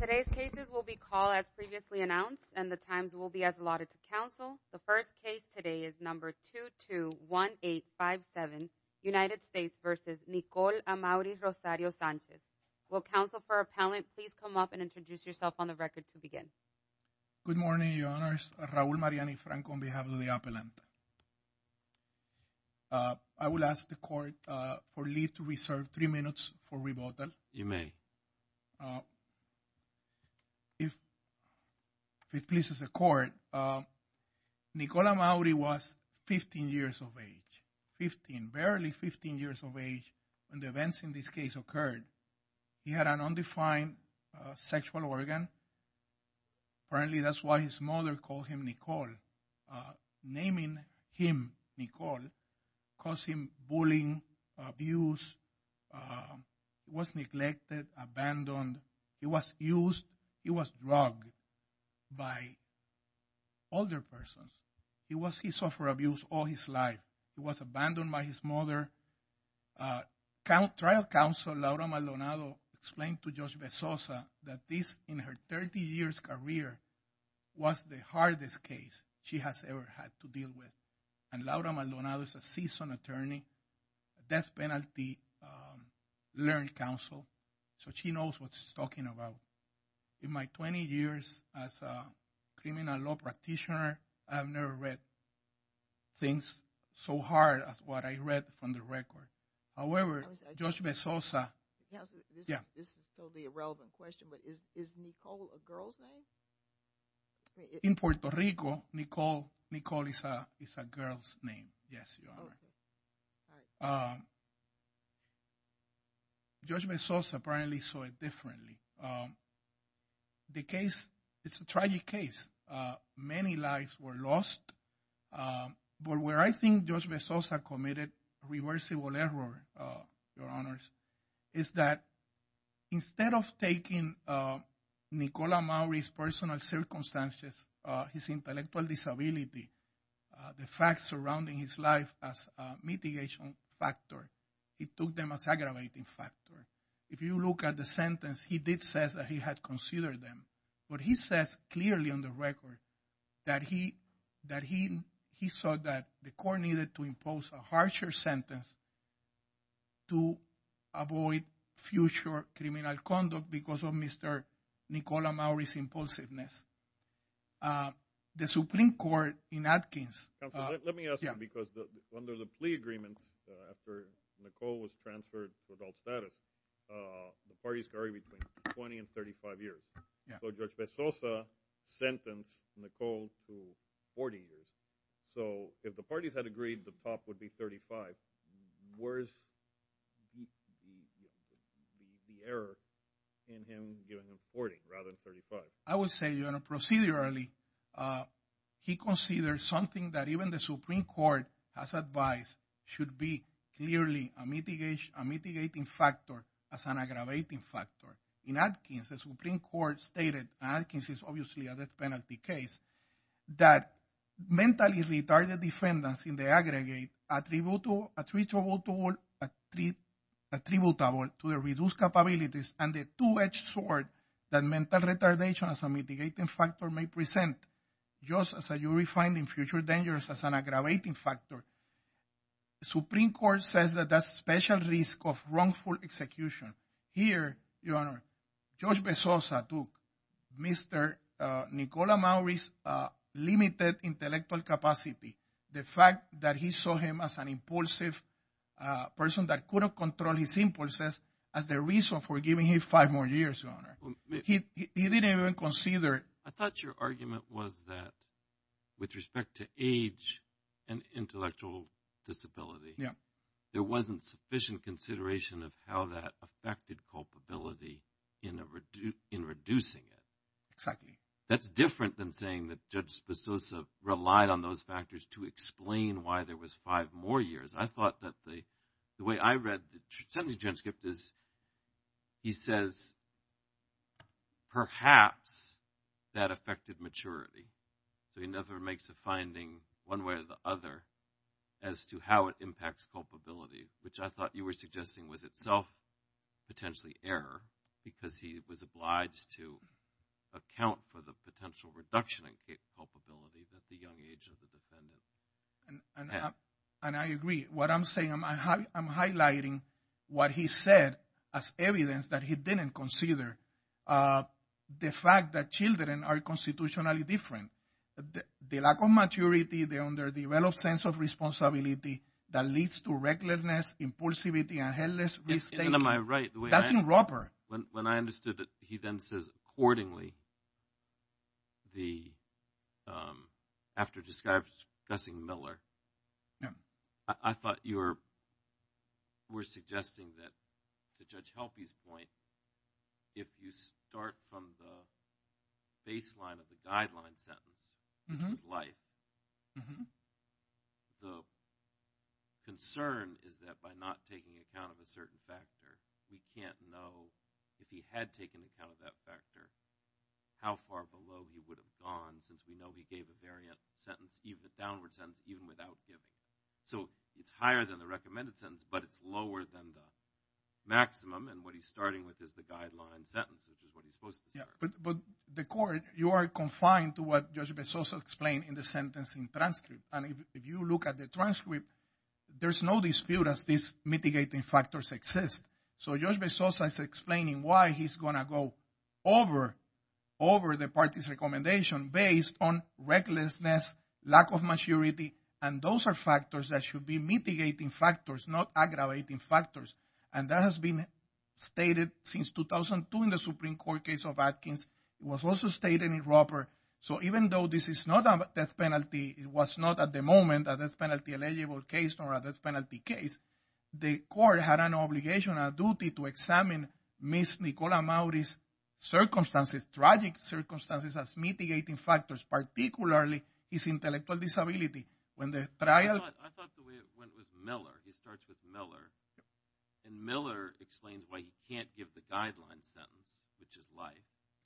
Today's cases will be called as previously announced and the times will be as allotted to counsel. The first case today is number 221857 United States versus Nicole Amauri Rosario Sanchez. Will counsel for appellant please come up and introduce yourself on the record to begin. Good morning your honors. Raul Mariani Franco on behalf of the appellant. I will ask the court for leave to reserve three minutes for rebuttal. You may. If it pleases the court, Nicole Amauri was 15 years of age, 15, barely 15 years of age when the events in this case occurred. He had an undefined sexual organ. Apparently that's why his mother called him Nicole. Naming him Nicole caused him bullying, abuse, uh, was neglected, abandoned. He was used, he was drugged by older persons. He was, he suffered abuse all his life. He was abandoned by his mother. Trial counsel Laura Maldonado explained to Judge Bezosa that this in her 30 years career was the hardest case she has ever had to deal with. And Laura Maldonado is a seasoned attorney, death penalty, um, learned counsel. So she knows what she's talking about. In my 20 years as a criminal law practitioner, I've never read things so hard as what I read from the record. However, Judge Bezosa. Yeah, this is totally irrelevant question, but is, is Nicole a girl's name? In Puerto Rico, Nicole, Nicole is a, is a girl's name. Yes, you are. Um, Judge Bezosa apparently saw it differently. Um, the case, it's a tragic case. Uh, many lives were lost. Um, but where I think Judge Bezosa committed reversible error, uh, your honors, is that instead of taking, uh, Nicola Maury's personal circumstances, uh, his intellectual disability, uh, the facts surrounding his life as a mitigation factor, he took them as aggravating factor. If you look at the sentence, he did says that he had considered them, but he says clearly on the record that he, that he, he saw that the court needed to impose a harsher sentence to avoid future criminal conduct because of Mr. Nicola Maury's impulsiveness. Uh, the Supreme Court in Atkins. Let me ask you, because under the plea agreement, after Nicole was transferred to adult status, uh, the parties carry between 20 and 35 years. Yeah. So Judge Bezosa sentenced Nicole to 40 years. So if the parties had agreed, the top would be 35. Where's the error in him giving him 40 rather than 35? I would say, you know, procedurally, uh, he considered something that even the Supreme Court has advised should be clearly a mitigation, a mitigating factor as an aggravating factor. In Atkins, the Supreme Court stated, and Atkins is a death penalty case, that mentally retarded defendants in the aggregate attributable, attributable, attributable to the reduced capabilities and the two-edged sword that mental retardation as a mitigating factor may present just as a jury finding future dangers as an aggravating factor. The Supreme Court says that that's special risk of wrongful execution. Here, Your Honor, Judge Bezosa took Mr., uh, Nicola Maury's, uh, limited intellectual capacity. The fact that he saw him as an impulsive, uh, person that couldn't control his impulses as the reason for giving him five more years, Your Honor. He, he didn't even consider. I thought your argument was that with respect to age and intellectual disability. Yeah. There wasn't sufficient consideration of how that affected culpability in a, in reducing it. Exactly. That's different than saying that Judge Bezosa relied on those factors to explain why there was five more years. I thought that the, the way I read the sentencing transcript is, he says, perhaps that affected maturity. So, he never makes a finding one way or the other as to how it impacts culpability, which I thought you were suggesting was itself potentially error because he was obliged to account for the potential reduction in culpability that the young age of the defendant had. And I agree. What I'm saying, I'm high, I'm highlighting what he said as evidence that he didn't consider, uh, the fact that children are constitutionally different. The lack of maturity, the underdeveloped sense of responsibility that leads to recklessness, impulsivity, and headless risk taking. And am I right? That's in Roper. When I understood it, he then says, accordingly, the, um, after discussing Miller, I thought you were, were suggesting that, to Judge Helpe's point, if you start from the baseline of the guideline sentence, which is life, the concern is that by not taking account of a certain factor, we can't know if he had taken account of that factor, how far below he would have gone since we know he gave a variant sentence, even a downward sentence, even without giving. So, it's higher than the recommended sentence, but it's lower than the maximum, and what he's starting with is the guideline sentence, which is what he's supposed to start. But the court, you are confined to what Judge Bezos explained in the sentencing transcript. And if you look at the transcript, there's no dispute as these mitigating factors exist. So, Judge Bezos is explaining why he's going to go over, over the party's recommendation based on recklessness, lack of maturity, and those are factors that should be mitigating factors, not aggravating factors. And that has been stated since 2002 in the Supreme Court case of Atkins. It was also stated in Roper. So, even though this is not a death penalty, it was not at the moment a death penalty eligible case or a death penalty case, the court had an obligation, a duty to examine Ms. Nicola Maury's circumstances, tragic circumstances as mitigating factors, particularly his intellectual disability. But I thought the way it went was Miller. He starts with Miller. And Miller explains why he can't give the guideline sentence, which is life.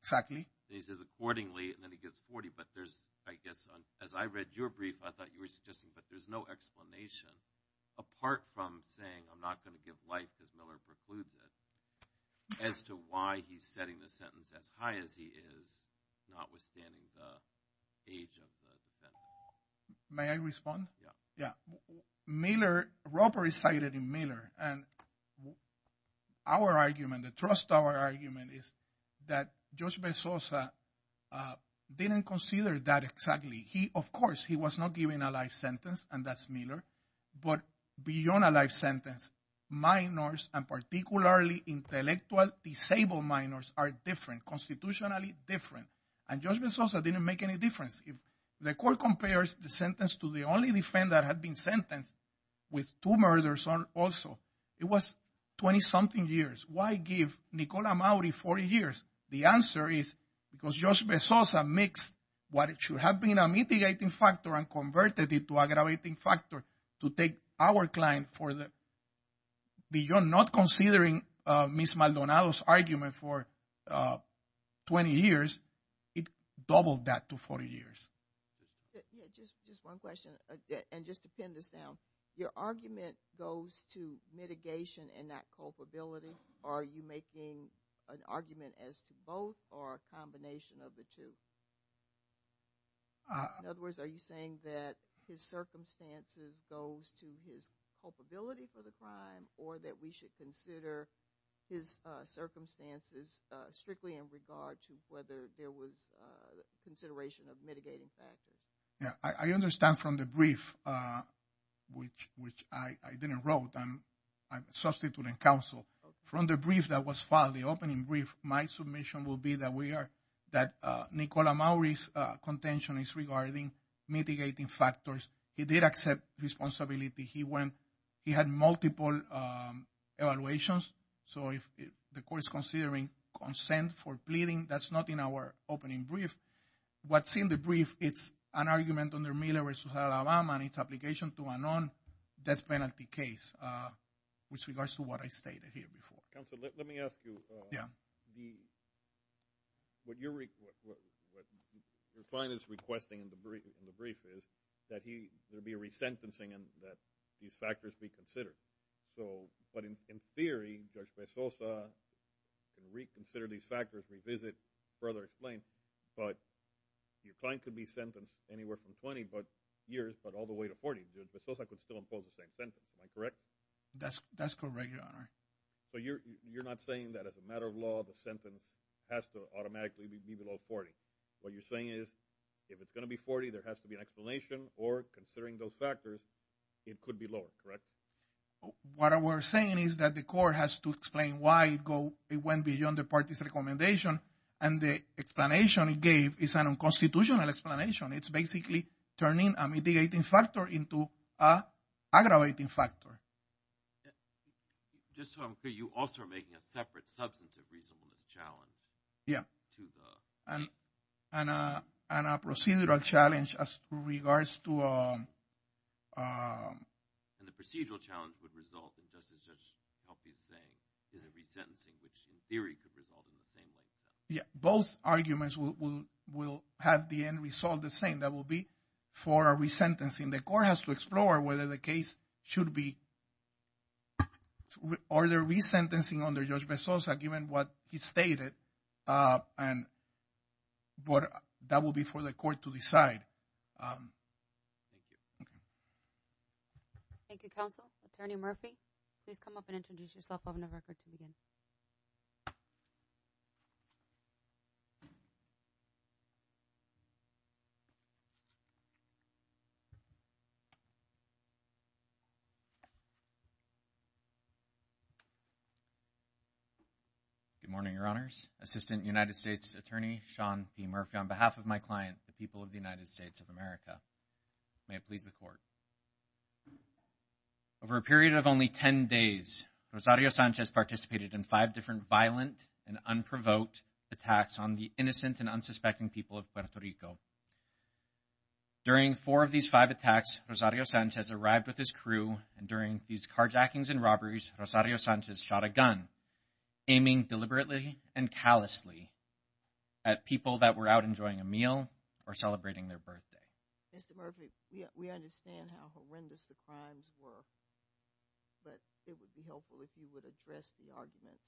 Exactly. And he says accordingly, and then he gets 40. But there's, I guess, as I read your brief, I thought you were suggesting, but there's no explanation apart from saying, I'm not going to give life because Miller precludes it, as to why he's setting the sentence as high as he is, notwithstanding the age of the defendant. May I respond? Miller, Roper is cited in Miller. And our argument, the trust our argument is that Judge Bezosa didn't consider that exactly. He, of course, he was not giving a life sentence, and that's Miller. But beyond a life sentence, minors and particularly intellectual disabled minors are different, constitutionally different. And Judge Bezosa didn't make any difference. The court compares the sentence to the only defendant that had been sentenced with two murders also. It was 20-something years. Why give Nicola Maury 40 years? The answer is because Judge Bezosa mixed what should have been a mitigating factor and converted it to aggravating factor to take our client for the, beyond not considering Ms. Maldonado's 20 years, it doubled that to 40 years. Yeah, just one question. And just to pin this down, your argument goes to mitigation and not culpability. Are you making an argument as to both or a combination of the two? In other words, are you saying that his circumstances goes to his culpability for the strictly in regard to whether there was consideration of mitigating factors? Yeah, I understand from the brief, which I didn't wrote and I'm substituting counsel. From the brief that was filed, the opening brief, my submission will be that we are, that Nicola Maury's contention is regarding mitigating factors. He did accept responsibility. He went, he had multiple evaluations. So if the court is considering consent for pleading, that's not in our opening brief. What's in the brief, it's an argument under Miller versus Alabama and its application to a non-death penalty case with regards to what I stated here before. Counselor, let me ask you. What your client is requesting in the brief is that he, there'll be a resentencing and that these factors be considered. So, but in theory, Judge Pesosa can reconsider these factors, revisit, further explain, but your client could be sentenced anywhere from 20 years, but all the way to 40. Judge Pesosa could still impose the same sentence. Am I correct? That's correct, Your Honor. So you're not saying that as a matter of law, the sentence has to automatically be below 40. What you're saying is if it's going to be 40, there has to be an explanation or considering those factors, it could be lower, correct? What we're saying is that the court has to explain why it went beyond the party's recommendation and the explanation it gave is an unconstitutional explanation. It's basically turning a mitigating factor into a aggravating factor. Just so I'm clear, you also are making a separate substantive reasonableness challenge. Yeah. To the... And a procedural challenge as regards to... And the procedural challenge would result in, just as Judge Helpy is saying, is a resentencing, which in theory could result in the same way. Yeah. Both arguments will have the end result the same. That will be for a resentencing. The court has to explore whether the case should be, or the resentencing under Judge Pesosa, given what he stated, and that will be for the court to decide. Okay. Thank you, counsel. Attorney Murphy, please come up and introduce yourself on the record to begin. Good morning, Your Honors. Assistant United States Attorney, Sean P. Murphy, on behalf of my client, the people of the United States of America. May it please the court. Over a period of only 10 days, Rosario Sanchez participated in five different violent and unprovoked attacks on the innocent and unsuspecting people of Puerto Rico. During four of these five attacks, Rosario Sanchez arrived with his crew, and during these carjackings and robberies, Rosario Sanchez shot a gun, aiming deliberately and callously at people that were out enjoying a meal or celebrating their birthday. Mr. Murphy, we understand how horrendous the crimes were, but it would be helpful if you would address the arguments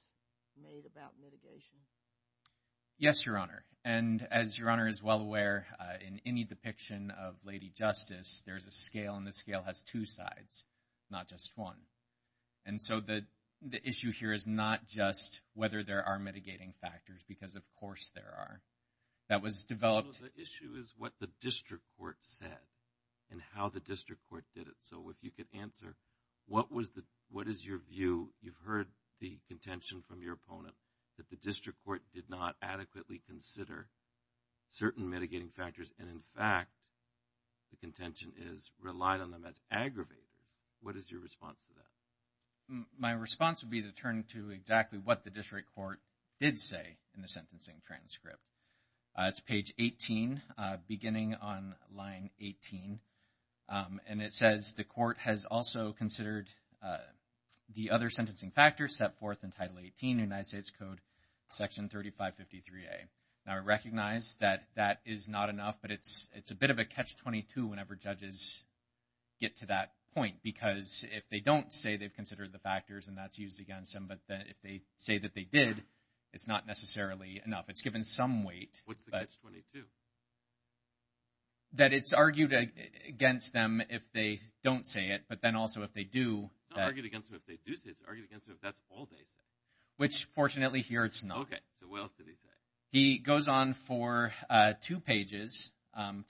made about mitigation. Yes, Your Honor. And as Your Honor is well aware, in any depiction of Lady Justice, there's a scale, and the scale has two sides, not just one. And so the issue here is not just whether there are mitigating factors, because of course there are. That was developed. The issue is what the district court said and how the district court did it. So if you could answer, what was the, what is your view? You've heard the contention from your opponent that the district court did not adequately consider certain mitigating factors, and in fact, the contention is relied on them as aggravated. What is your response to that? My response would be to turn to exactly what the district court did say in the sentencing transcript. It's page 18, beginning on line 18, and it says the court has also considered the other sentencing factors set forth in Title 18, United States Code, Section 3553A. Now, I recognize that that is not enough, but it's a bit of a catch-22 whenever judges get to that point, because if they don't say they've considered the factors, and that's used against them, if they say that they did, it's not necessarily enough. It's given some weight. What's the catch-22? That it's argued against them if they don't say it, but then also if they do. It's not argued against them if they do say it, it's argued against them if that's all they say. Which fortunately here it's not. Okay, so what else did he say? He goes on for two pages,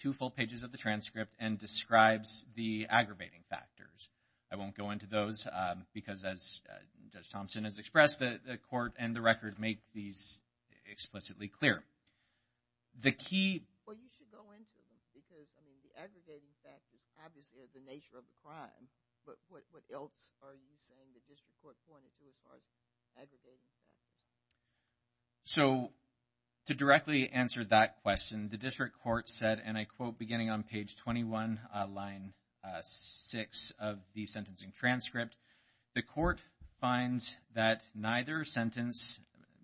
two full pages of the transcript, and describes the aggravating factors. I won't go into those, because as Judge Thompson has expressed, the court and the record make these explicitly clear. The key... Well, you should go into them, because I mean, the aggregating factors obviously are the nature of the crime, but what else are you saying the district court pointed to as far as aggregating factors? So, to directly answer that question, the district court said, and I quote, beginning on page 21, line six of the sentencing transcript, the court finds that neither sentence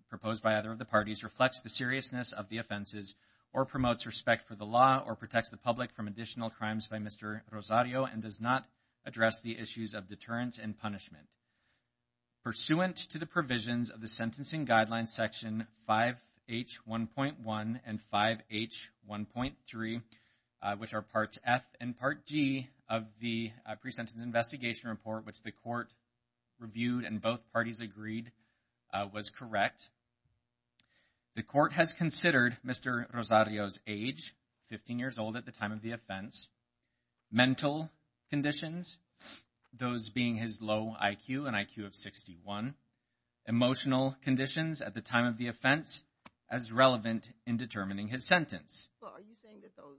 proposed by either of the parties reflects the seriousness of the offenses, or promotes respect for the law, or protects the public from additional crimes by Mr. Rosario, and does not address the issues of deterrence and punishment. Pursuant to the provisions of the sentencing guidelines section 5H1.1 and 5H1.3, which are parts F and part D of the pre-sentence investigation report, which the court reviewed and both parties agreed was correct, the court has considered Mr. Rosario's age, 15 years old at the time of the offense, mental conditions, those being his low IQ, an IQ of 61, emotional conditions at the time of the offense, as relevant in determining his sentence. So, are you saying that those,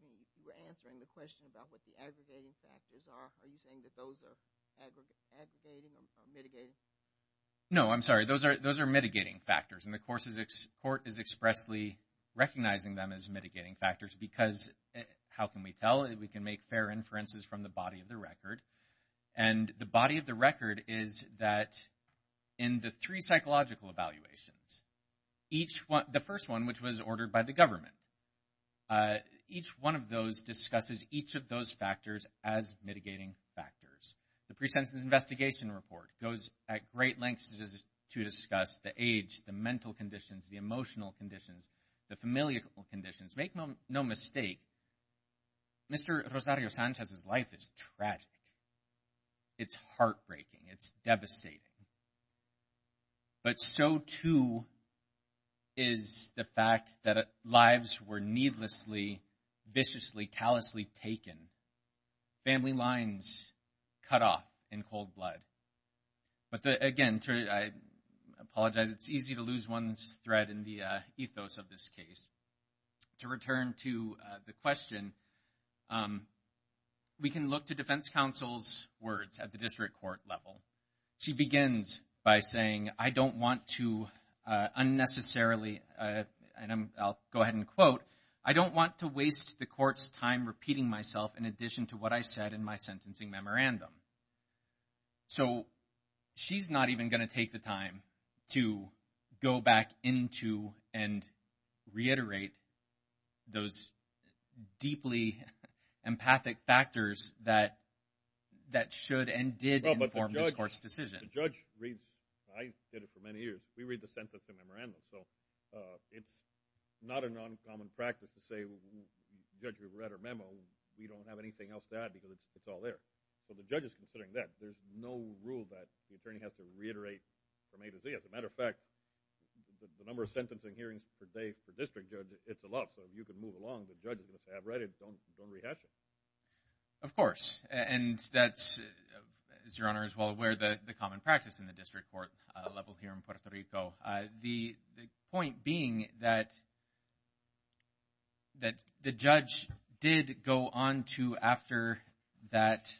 you were answering the question about what the aggregating factors are, are you saying that those are mitigating? No, I'm sorry, those are mitigating factors, and the court is expressly recognizing them as mitigating factors, because how can we tell? We can make fair inferences from the body of the record, and the body of the record is that in the three psychological evaluations, the first one, which was ordered by the government, each one of those discusses each of those factors as mitigating factors. The pre-sentence investigation report goes at great lengths to discuss the age, the mental conditions, the emotional conditions, the familial conditions, make no mistake, Mr. Rosario Sanchez's life is tragic. It's heartbreaking, it's devastating. But so, too, is the fact that lives were needlessly, viciously, callously taken. Family lines cut off in cold blood. But again, I apologize, it's easy to lose one's thread in the ethos of this case. To return to the question, we can look to defense counsel's words at the district court level. She begins by saying, I don't want to unnecessarily, and I'll go ahead and quote, I don't want to waste the court's time repeating myself in addition to what I said in my sentencing memorandum. So she's not even going to take the time to go back into and reiterate those deeply empathic factors that should and did inform this court's decision. The judge reads, I did it for many years, we read the sentencing memorandum. So it's not a non-common practice to say, judge, we've read our memo, we don't have anything else to add because it's all there. So the judge is considering that. There's no rule that the attorney has to reiterate from A to Z. As a matter of fact, the number of sentencing hearings per day it's a lot. So you can move along, the judge has to have read it, don't rehash it. Of course, and that's, as your Honor is well aware, the common practice in the district court level here in Puerto Rico. The point being that the judge did go on to after that,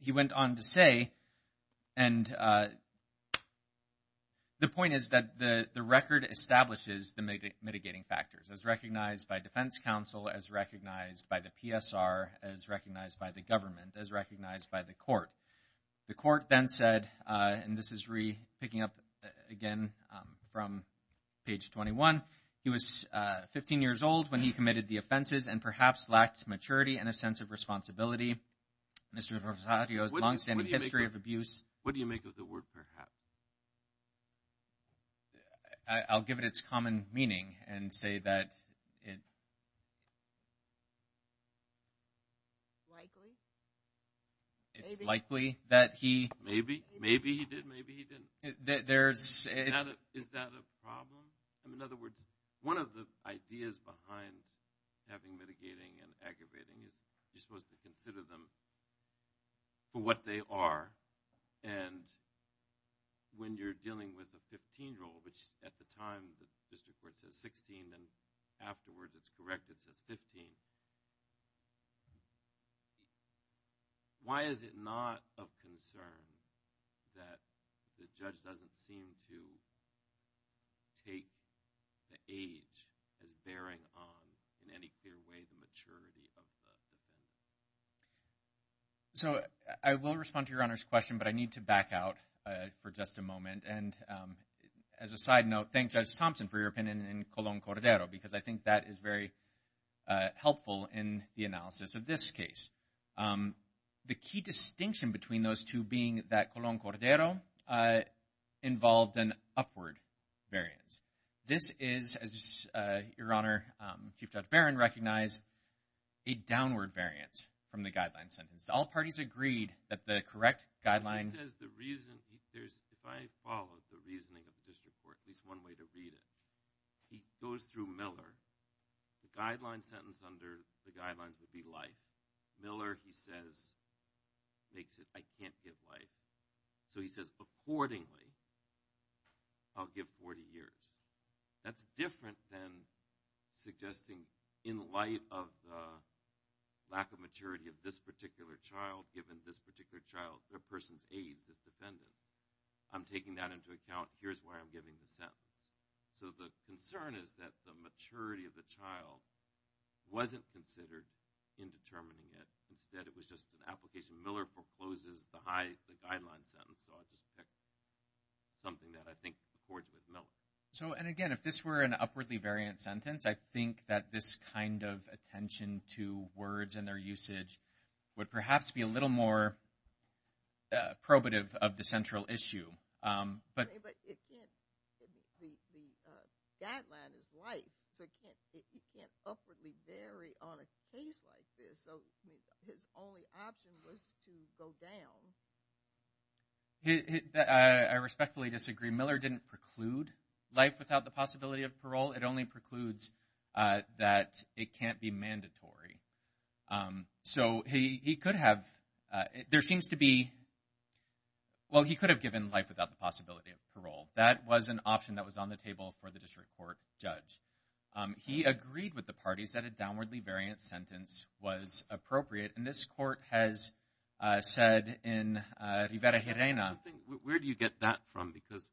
he went on to say, and the point is that the record establishes the mitigating factors as recognized by defense counsel, as recognized by the PSR, as recognized by the government, as recognized by the court. The court then said, and this is picking up again from page 21, he was 15 years old when he committed the offenses and perhaps lacked maturity and a sense of responsibility. Mr. Rosario's long-standing history of abuse. What do you make of the word perhaps? I'll give it its common meaning and say that it's likely that he... Maybe, maybe he did, maybe he didn't. Is that a problem? In other words, one of the ideas behind having mitigating and aggravating is you're supposed to consider them for what they are and when you're dealing with a 15-year-old, which at the time the district court says 16 and afterwards it's correct, it says 15. Why is it not of concern that the judge doesn't seem to take the age as bearing on in any clear way the maturity of the defendant? So I will respond to your Honor's question, but I need to back out for just a moment. And as a side note, thank Judge Thompson for your opinion in Colon Cordero because I think that is very helpful in the analysis of this case. The key distinction between those two being that Colon Cordero involved an upward variance. This is, as your Honor, Chief Judge Barron recognized, a downward variance from the guideline sentence. All parties agreed that the correct guideline... He says the reason, if I follow the reasoning of the district court, at least one way to read it, he goes through Miller. The guideline sentence under the guidelines would be life. Miller, he says, makes it I can't give life. So he says accordingly, I'll give 40 years. That's different than suggesting in light of the lack of maturity of this particular child, given this particular child, the person's age, this defendant. I'm taking that into account. Here's why I'm giving the sentence. So the concern is that the maturity of the child wasn't considered in determining it. Instead, it was just an application. Miller proposes the guideline sentence. So I'll just pick something that I think accords with Miller. So, and again, if this were an upwardly variant sentence, I think that this kind of attention to words and their usage would perhaps be a little more probative of the central issue. But the guideline is life. So it can't upwardly vary on a case like this. So his only option was to go down. I respectfully disagree. Miller didn't preclude life without the possibility of parole. It only precludes that it can't be mandatory. So he could have, there seems to be, well, he could have given life without the possibility of parole. That was an option that was on the table for the district court judge. He agreed with the parties that a downwardly variant sentence was appropriate. And this court has said in Rivera-Jerena. Where do you get that from? Because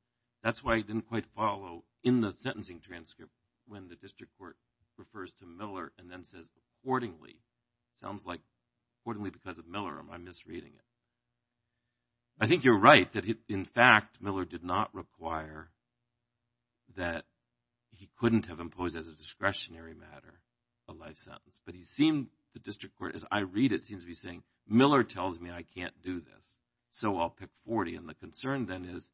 that's why I didn't quite follow in the sentencing transcript when the district court refers to Miller and then says accordingly. It sounds like accordingly because of Miller, am I misreading it? I think you're right that, in fact, Miller did not require that he couldn't have imposed as a discretionary matter a life sentence. But he seemed, the district court, as I read it, seems to be saying, Miller tells me I can't do this. So I'll pick 40. And the concern then is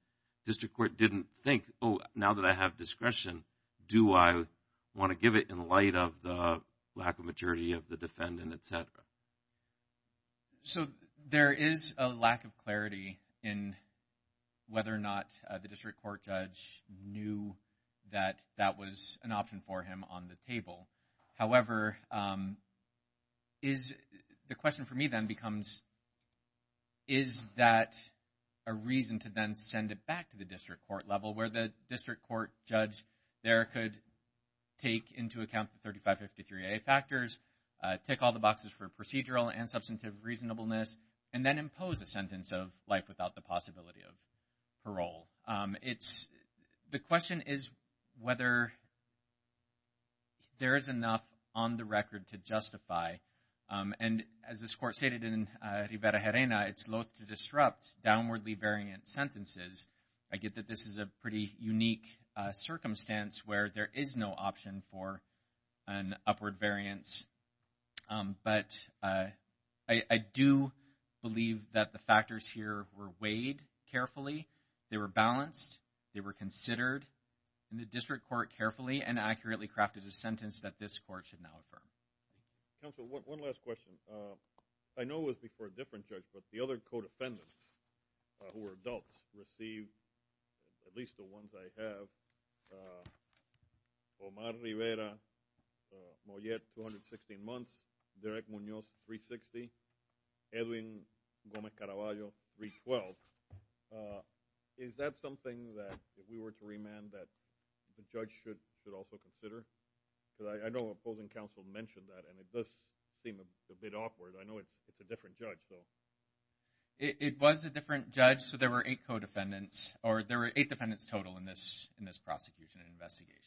district court didn't think, oh, now that I have discretion, do I want to give it in light of the lack of maturity of the defendant, et cetera? So there is a lack of clarity in whether or not the district court judge knew that that was an option for him on the table. However, the question for me then becomes, is that a reason to then send it back to the district court level where the district court judge there could take into account the 3553A factors, tick all the boxes for procedural and substantive reasonableness, and then impose a sentence of life without the possibility of parole? It's, the question is whether there is enough on the record to justify. And as this court stated in Rivera-Herena, it's loath to disrupt downwardly variant sentences. I get that this is a pretty unique circumstance where there is no option for an upward variance. But I do believe that the factors here were weighed carefully. They were balanced. They were considered in the district court carefully and accurately crafted a sentence that this court should now affirm. Counsel, one last question. I know it was before a different judge, but the other co-defendants who were adults received, at least the ones I have, Omar Rivera, Moyet, 216 months, Derek Munoz, 360, Edwin Gomez-Caraballo, 312. Is that something that, if we were to remand, that the judge should also consider? Because I know opposing counsel mentioned that, and it does seem a bit awkward. I know it's a different judge, though. It was a different judge. So there were eight co-defendants, or there were eight defendants total in this prosecution and investigation.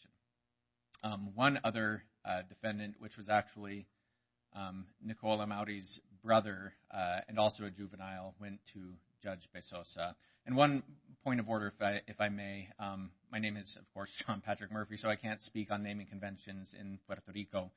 One other defendant, which was actually Nicola Maury's brother, and also a juvenile, went to Judge Bezosa. And one point of order, if I may. My name is, of course, John Patrick Murphy, so I can't speak on naming conventions in Puerto Rico.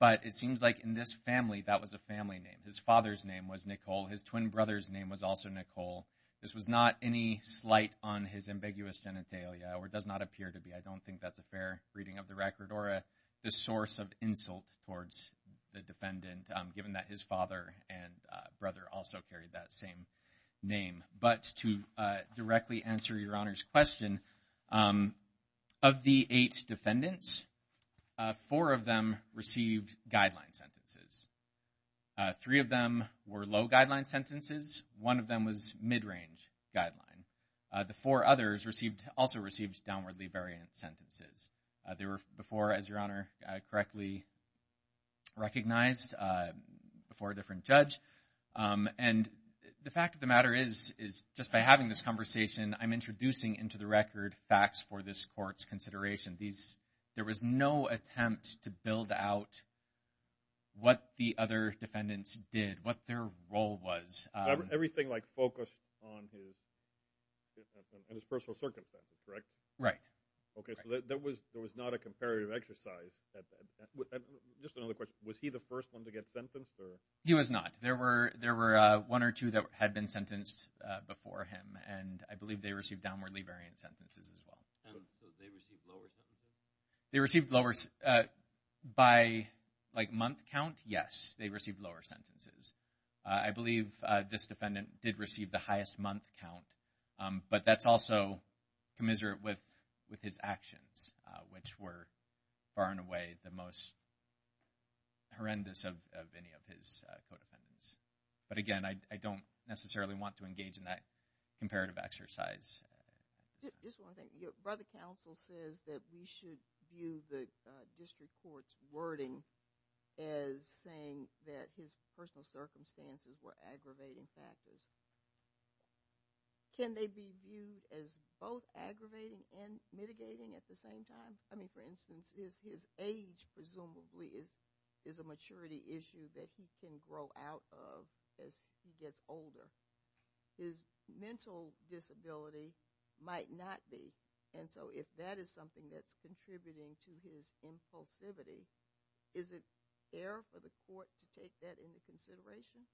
But it seems like in this family, that was a family name. His father's name was Nicole. His twin brother's name was also Nicole. This was not any slight on his ambiguous genitalia, or it does not appear to be. I don't think that's a fair reading of the record, or a source of insult towards the defendant, given that his father and brother also carried that same name. But to directly answer Your Honor's question, of the eight defendants, four of them received guideline sentences. Three of them were low-guideline sentences. One of them was mid-range guideline. The four others also received downwardly variant sentences. They were before, as Your Honor correctly recognized, before a different judge. And the fact of the matter is, just by having this conversation, I'm introducing into the record facts for this court's consideration. There was no attempt to build out what the other defendants did, what their role was. Everything like focused on his personal circumstances, correct? Right. Okay, so there was not a comparative exercise. Just another question. Was he the first one to get sentenced, or? He was not. There were one or two that had been sentenced before him, and I believe they received downwardly variant sentences as well. And so they received lower sentences? They received lower, by like month count? Yes, they received lower sentences. I believe this defendant did receive the highest month count, but that's also commiserate with his actions, which were far and away the most horrendous of any of his co-defendants. But again, I don't necessarily want to engage in that comparative exercise. Brother counsel says that we should view the district court's wording as saying that his personal circumstances were aggravating factors. Can they be viewed as both aggravating and mitigating at the same time? I mean, for instance, his age presumably is a maturity issue that he can grow out of as he gets older. His mental disability might not be. And so if that is something that's contributing to his impulsivity, is it fair for the court to take that into consideration?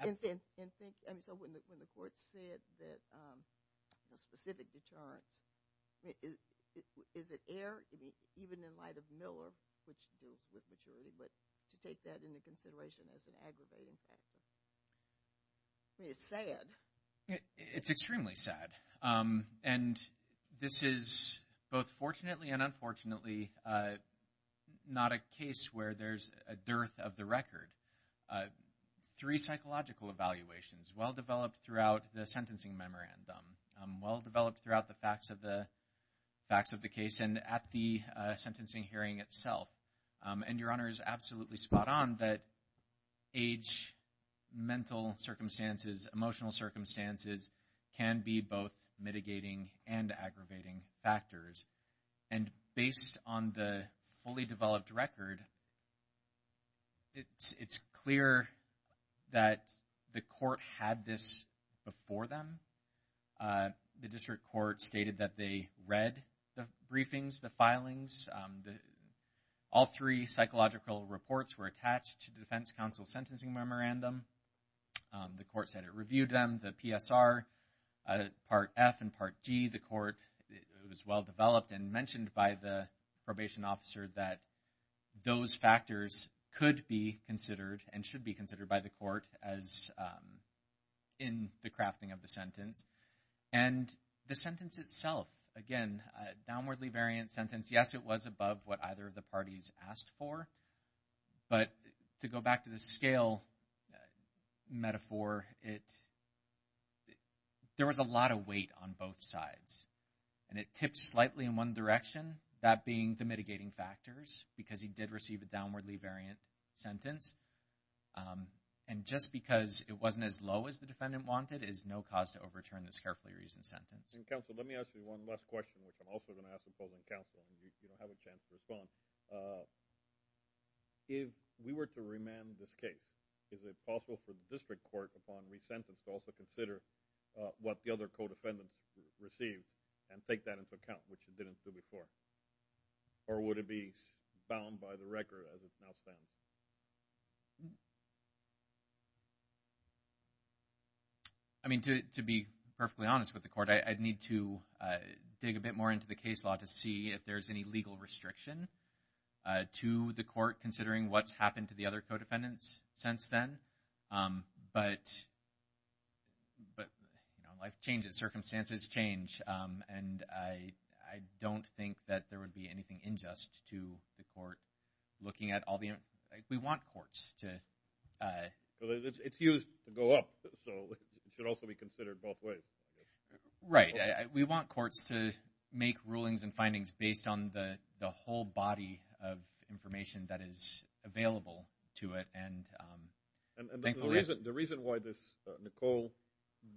And think, I mean, so when the court said that a specific deterrence, is it air, even in light of Miller, which to do with maturity, but to take that into consideration as an aggravating factor? I mean, it's sad. It's extremely sad. And this is both fortunately and unfortunately not a case where there's a dearth of the record. Three psychological evaluations, well-developed throughout the sentencing memorandum, well-developed throughout the facts of the case and at the sentencing hearing itself. And your honor is absolutely spot on that age, mental circumstances, emotional circumstances can be both mitigating and aggravating factors. And based on the fully developed record, it's clear that the court had this before them. The district court stated that they read the briefings, the filings. All three psychological reports were attached to the defense counsel's sentencing memorandum. The court said it reviewed them, the PSR, part F and part G. The court, it was well-developed and mentioned by the probation officer that those factors could be considered and should be considered by the court as in the crafting of the sentence. And the sentence itself, again, a downwardly variant sentence, yes, it was above what either of the parties asked for. But to go back to the scale metaphor, there was a lot of weight on both sides. And it tipped slightly in one direction, that being the mitigating factors, because he did receive a downwardly variant sentence. And just because it wasn't as low as the defendant wanted is no cause to overturn this carefully reasoned sentence. And counsel, let me ask you one last question, which I'm also going to ask the opposing counsel, and you don't have a chance to respond. If we were to remand this case, is it possible for the district court upon resentence to also consider what the other co-defendants received and take that into account, which it didn't do before? Or would it be bound by the record as it now stands? I mean, to be perfectly honest with the court, I'd need to dig a bit more into the case law to see if there's any legal restriction to the court, considering what's happened to the other co-defendants since then. But, you know, life changes, circumstances change. And I don't think that there would be anything unjust to the court looking at all the... We want courts to... Because it's used to go up, so it should also be considered both ways. Right. We want courts to make rulings and findings based on the whole body of information that is available to it. And the reason why this Nicole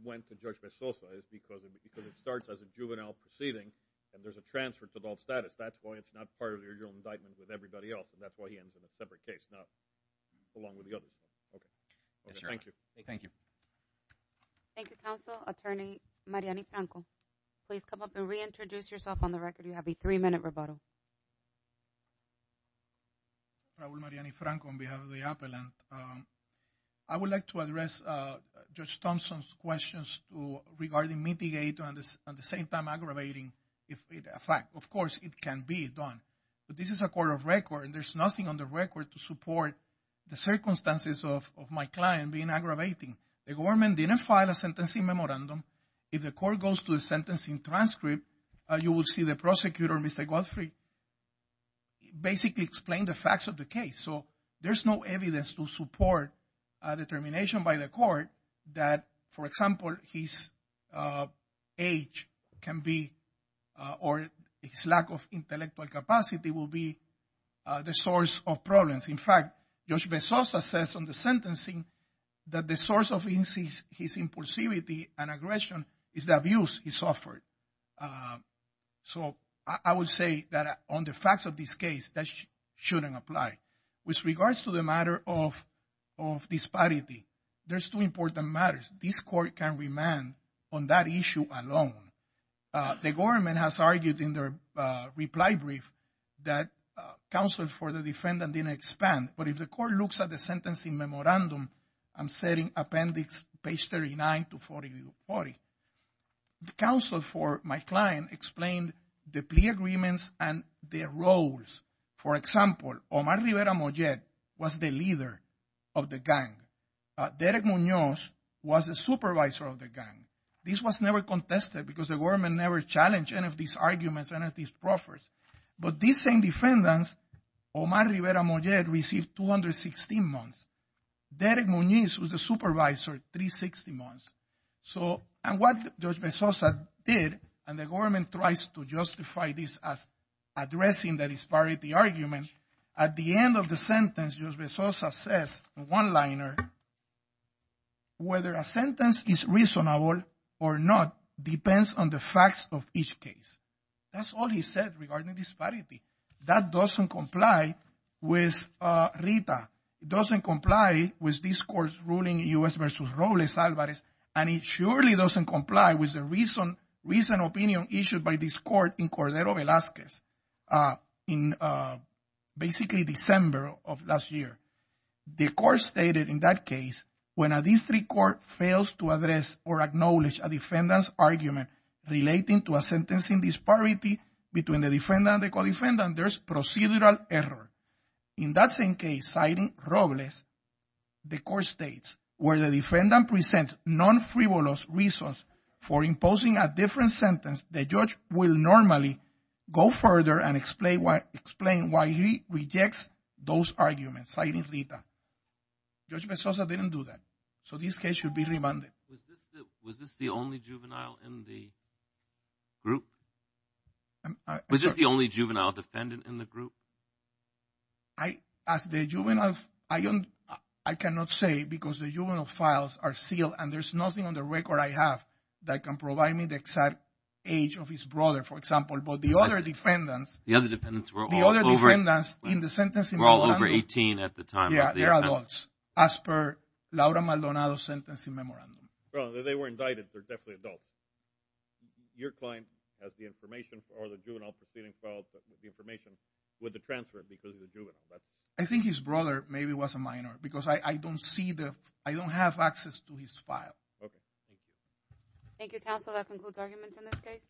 went to Judge Mezosa is because it starts as a juvenile proceeding and there's a transfer to adult status. That's why it's not part of the original indictment with everybody else. And that's why he ends in a separate case, not along with the others. Okay. Yes, Your Honor. Thank you. Thank you. Thank you, Counsel. Attorney Mariani-Franco, please come up and reintroduce yourself on the record. You have a three-minute rebuttal. Raul Mariani-Franco on behalf of the appellant. I would like to address Judge Thompson's questions regarding mitigating and at the same time aggravating a fact. Of course, it can be done. But this is a court of record and there's nothing on the record to support the circumstances of my client being aggravating. The government didn't file a sentencing memorandum. If the court goes to a sentencing transcript, you will see the prosecutor, Mr. Godfrey, basically explain the facts of the case. So there's no evidence to support a determination by the court that, for example, his age can be, or his lack of intellectual capacity will be the source of problems. In fact, Judge Bezosa says on the sentencing that the source of his impulsivity and aggression is the abuse he suffered. So I would say that on the facts of this case, that shouldn't apply. With regards to the matter of disparity, there's two important matters. This court can remand on that issue alone. The government has argued in their reply brief that counsel for the defendant didn't expand. But if the court looks at the sentencing memorandum, I'm setting appendix page 39 to 40. The counsel for my client explained the plea agreements and their roles. For example, Omar Rivera Mojet was the leader of the gang. Derek Munoz was the supervisor of the gang. This was never contested because the government never challenged any of these arguments, any of these proffers. But these same defendants, Omar Rivera Mojet, received 216 months. Derek Munoz was the supervisor 360 months. So, and what Judge Bezosa did, and the government tries to justify this as addressing the disparity argument, at the end of the sentence, Judge Bezosa says in one-liner, whether a sentence is reasonable or not depends on the facts of each case. That's all he said regarding disparity. That doesn't comply with RITA. It doesn't comply with this court's ruling, U.S. versus Robles-Alvarez. And it surely doesn't comply with the recent opinion issued by this court in Cordero Velazquez in basically December of last year. The court stated in that case, when a district court fails to address or acknowledge a defendant's argument relating to a sentencing disparity between the defendant and the co-defendant, there's procedural error. In that same case, citing Robles, the court states, where the defendant presents non-frivolous reasons for imposing a different sentence, the judge will normally go further and explain why he rejects those arguments, citing RITA. Judge Bezosa didn't do that. So this case should be remanded. Was this the only juvenile in the group? Was this the only juvenile defendant in the group? I cannot say, because the juvenile files are sealed and there's nothing on the record I have that can provide me the exact age of his brother, for example. But the other defendants... The other defendants were all over 18 at the time. Yeah, they're adults, as per Laura Maldonado's sentencing memorandum. Well, they were indicted. They're definitely adults. Your client has the information or the juvenile proceeding files, the information with the transfer because he's a juvenile. I think his brother maybe was a minor because I don't have access to his file. Okay, thank you. Thank you, counsel. That concludes arguments in this case.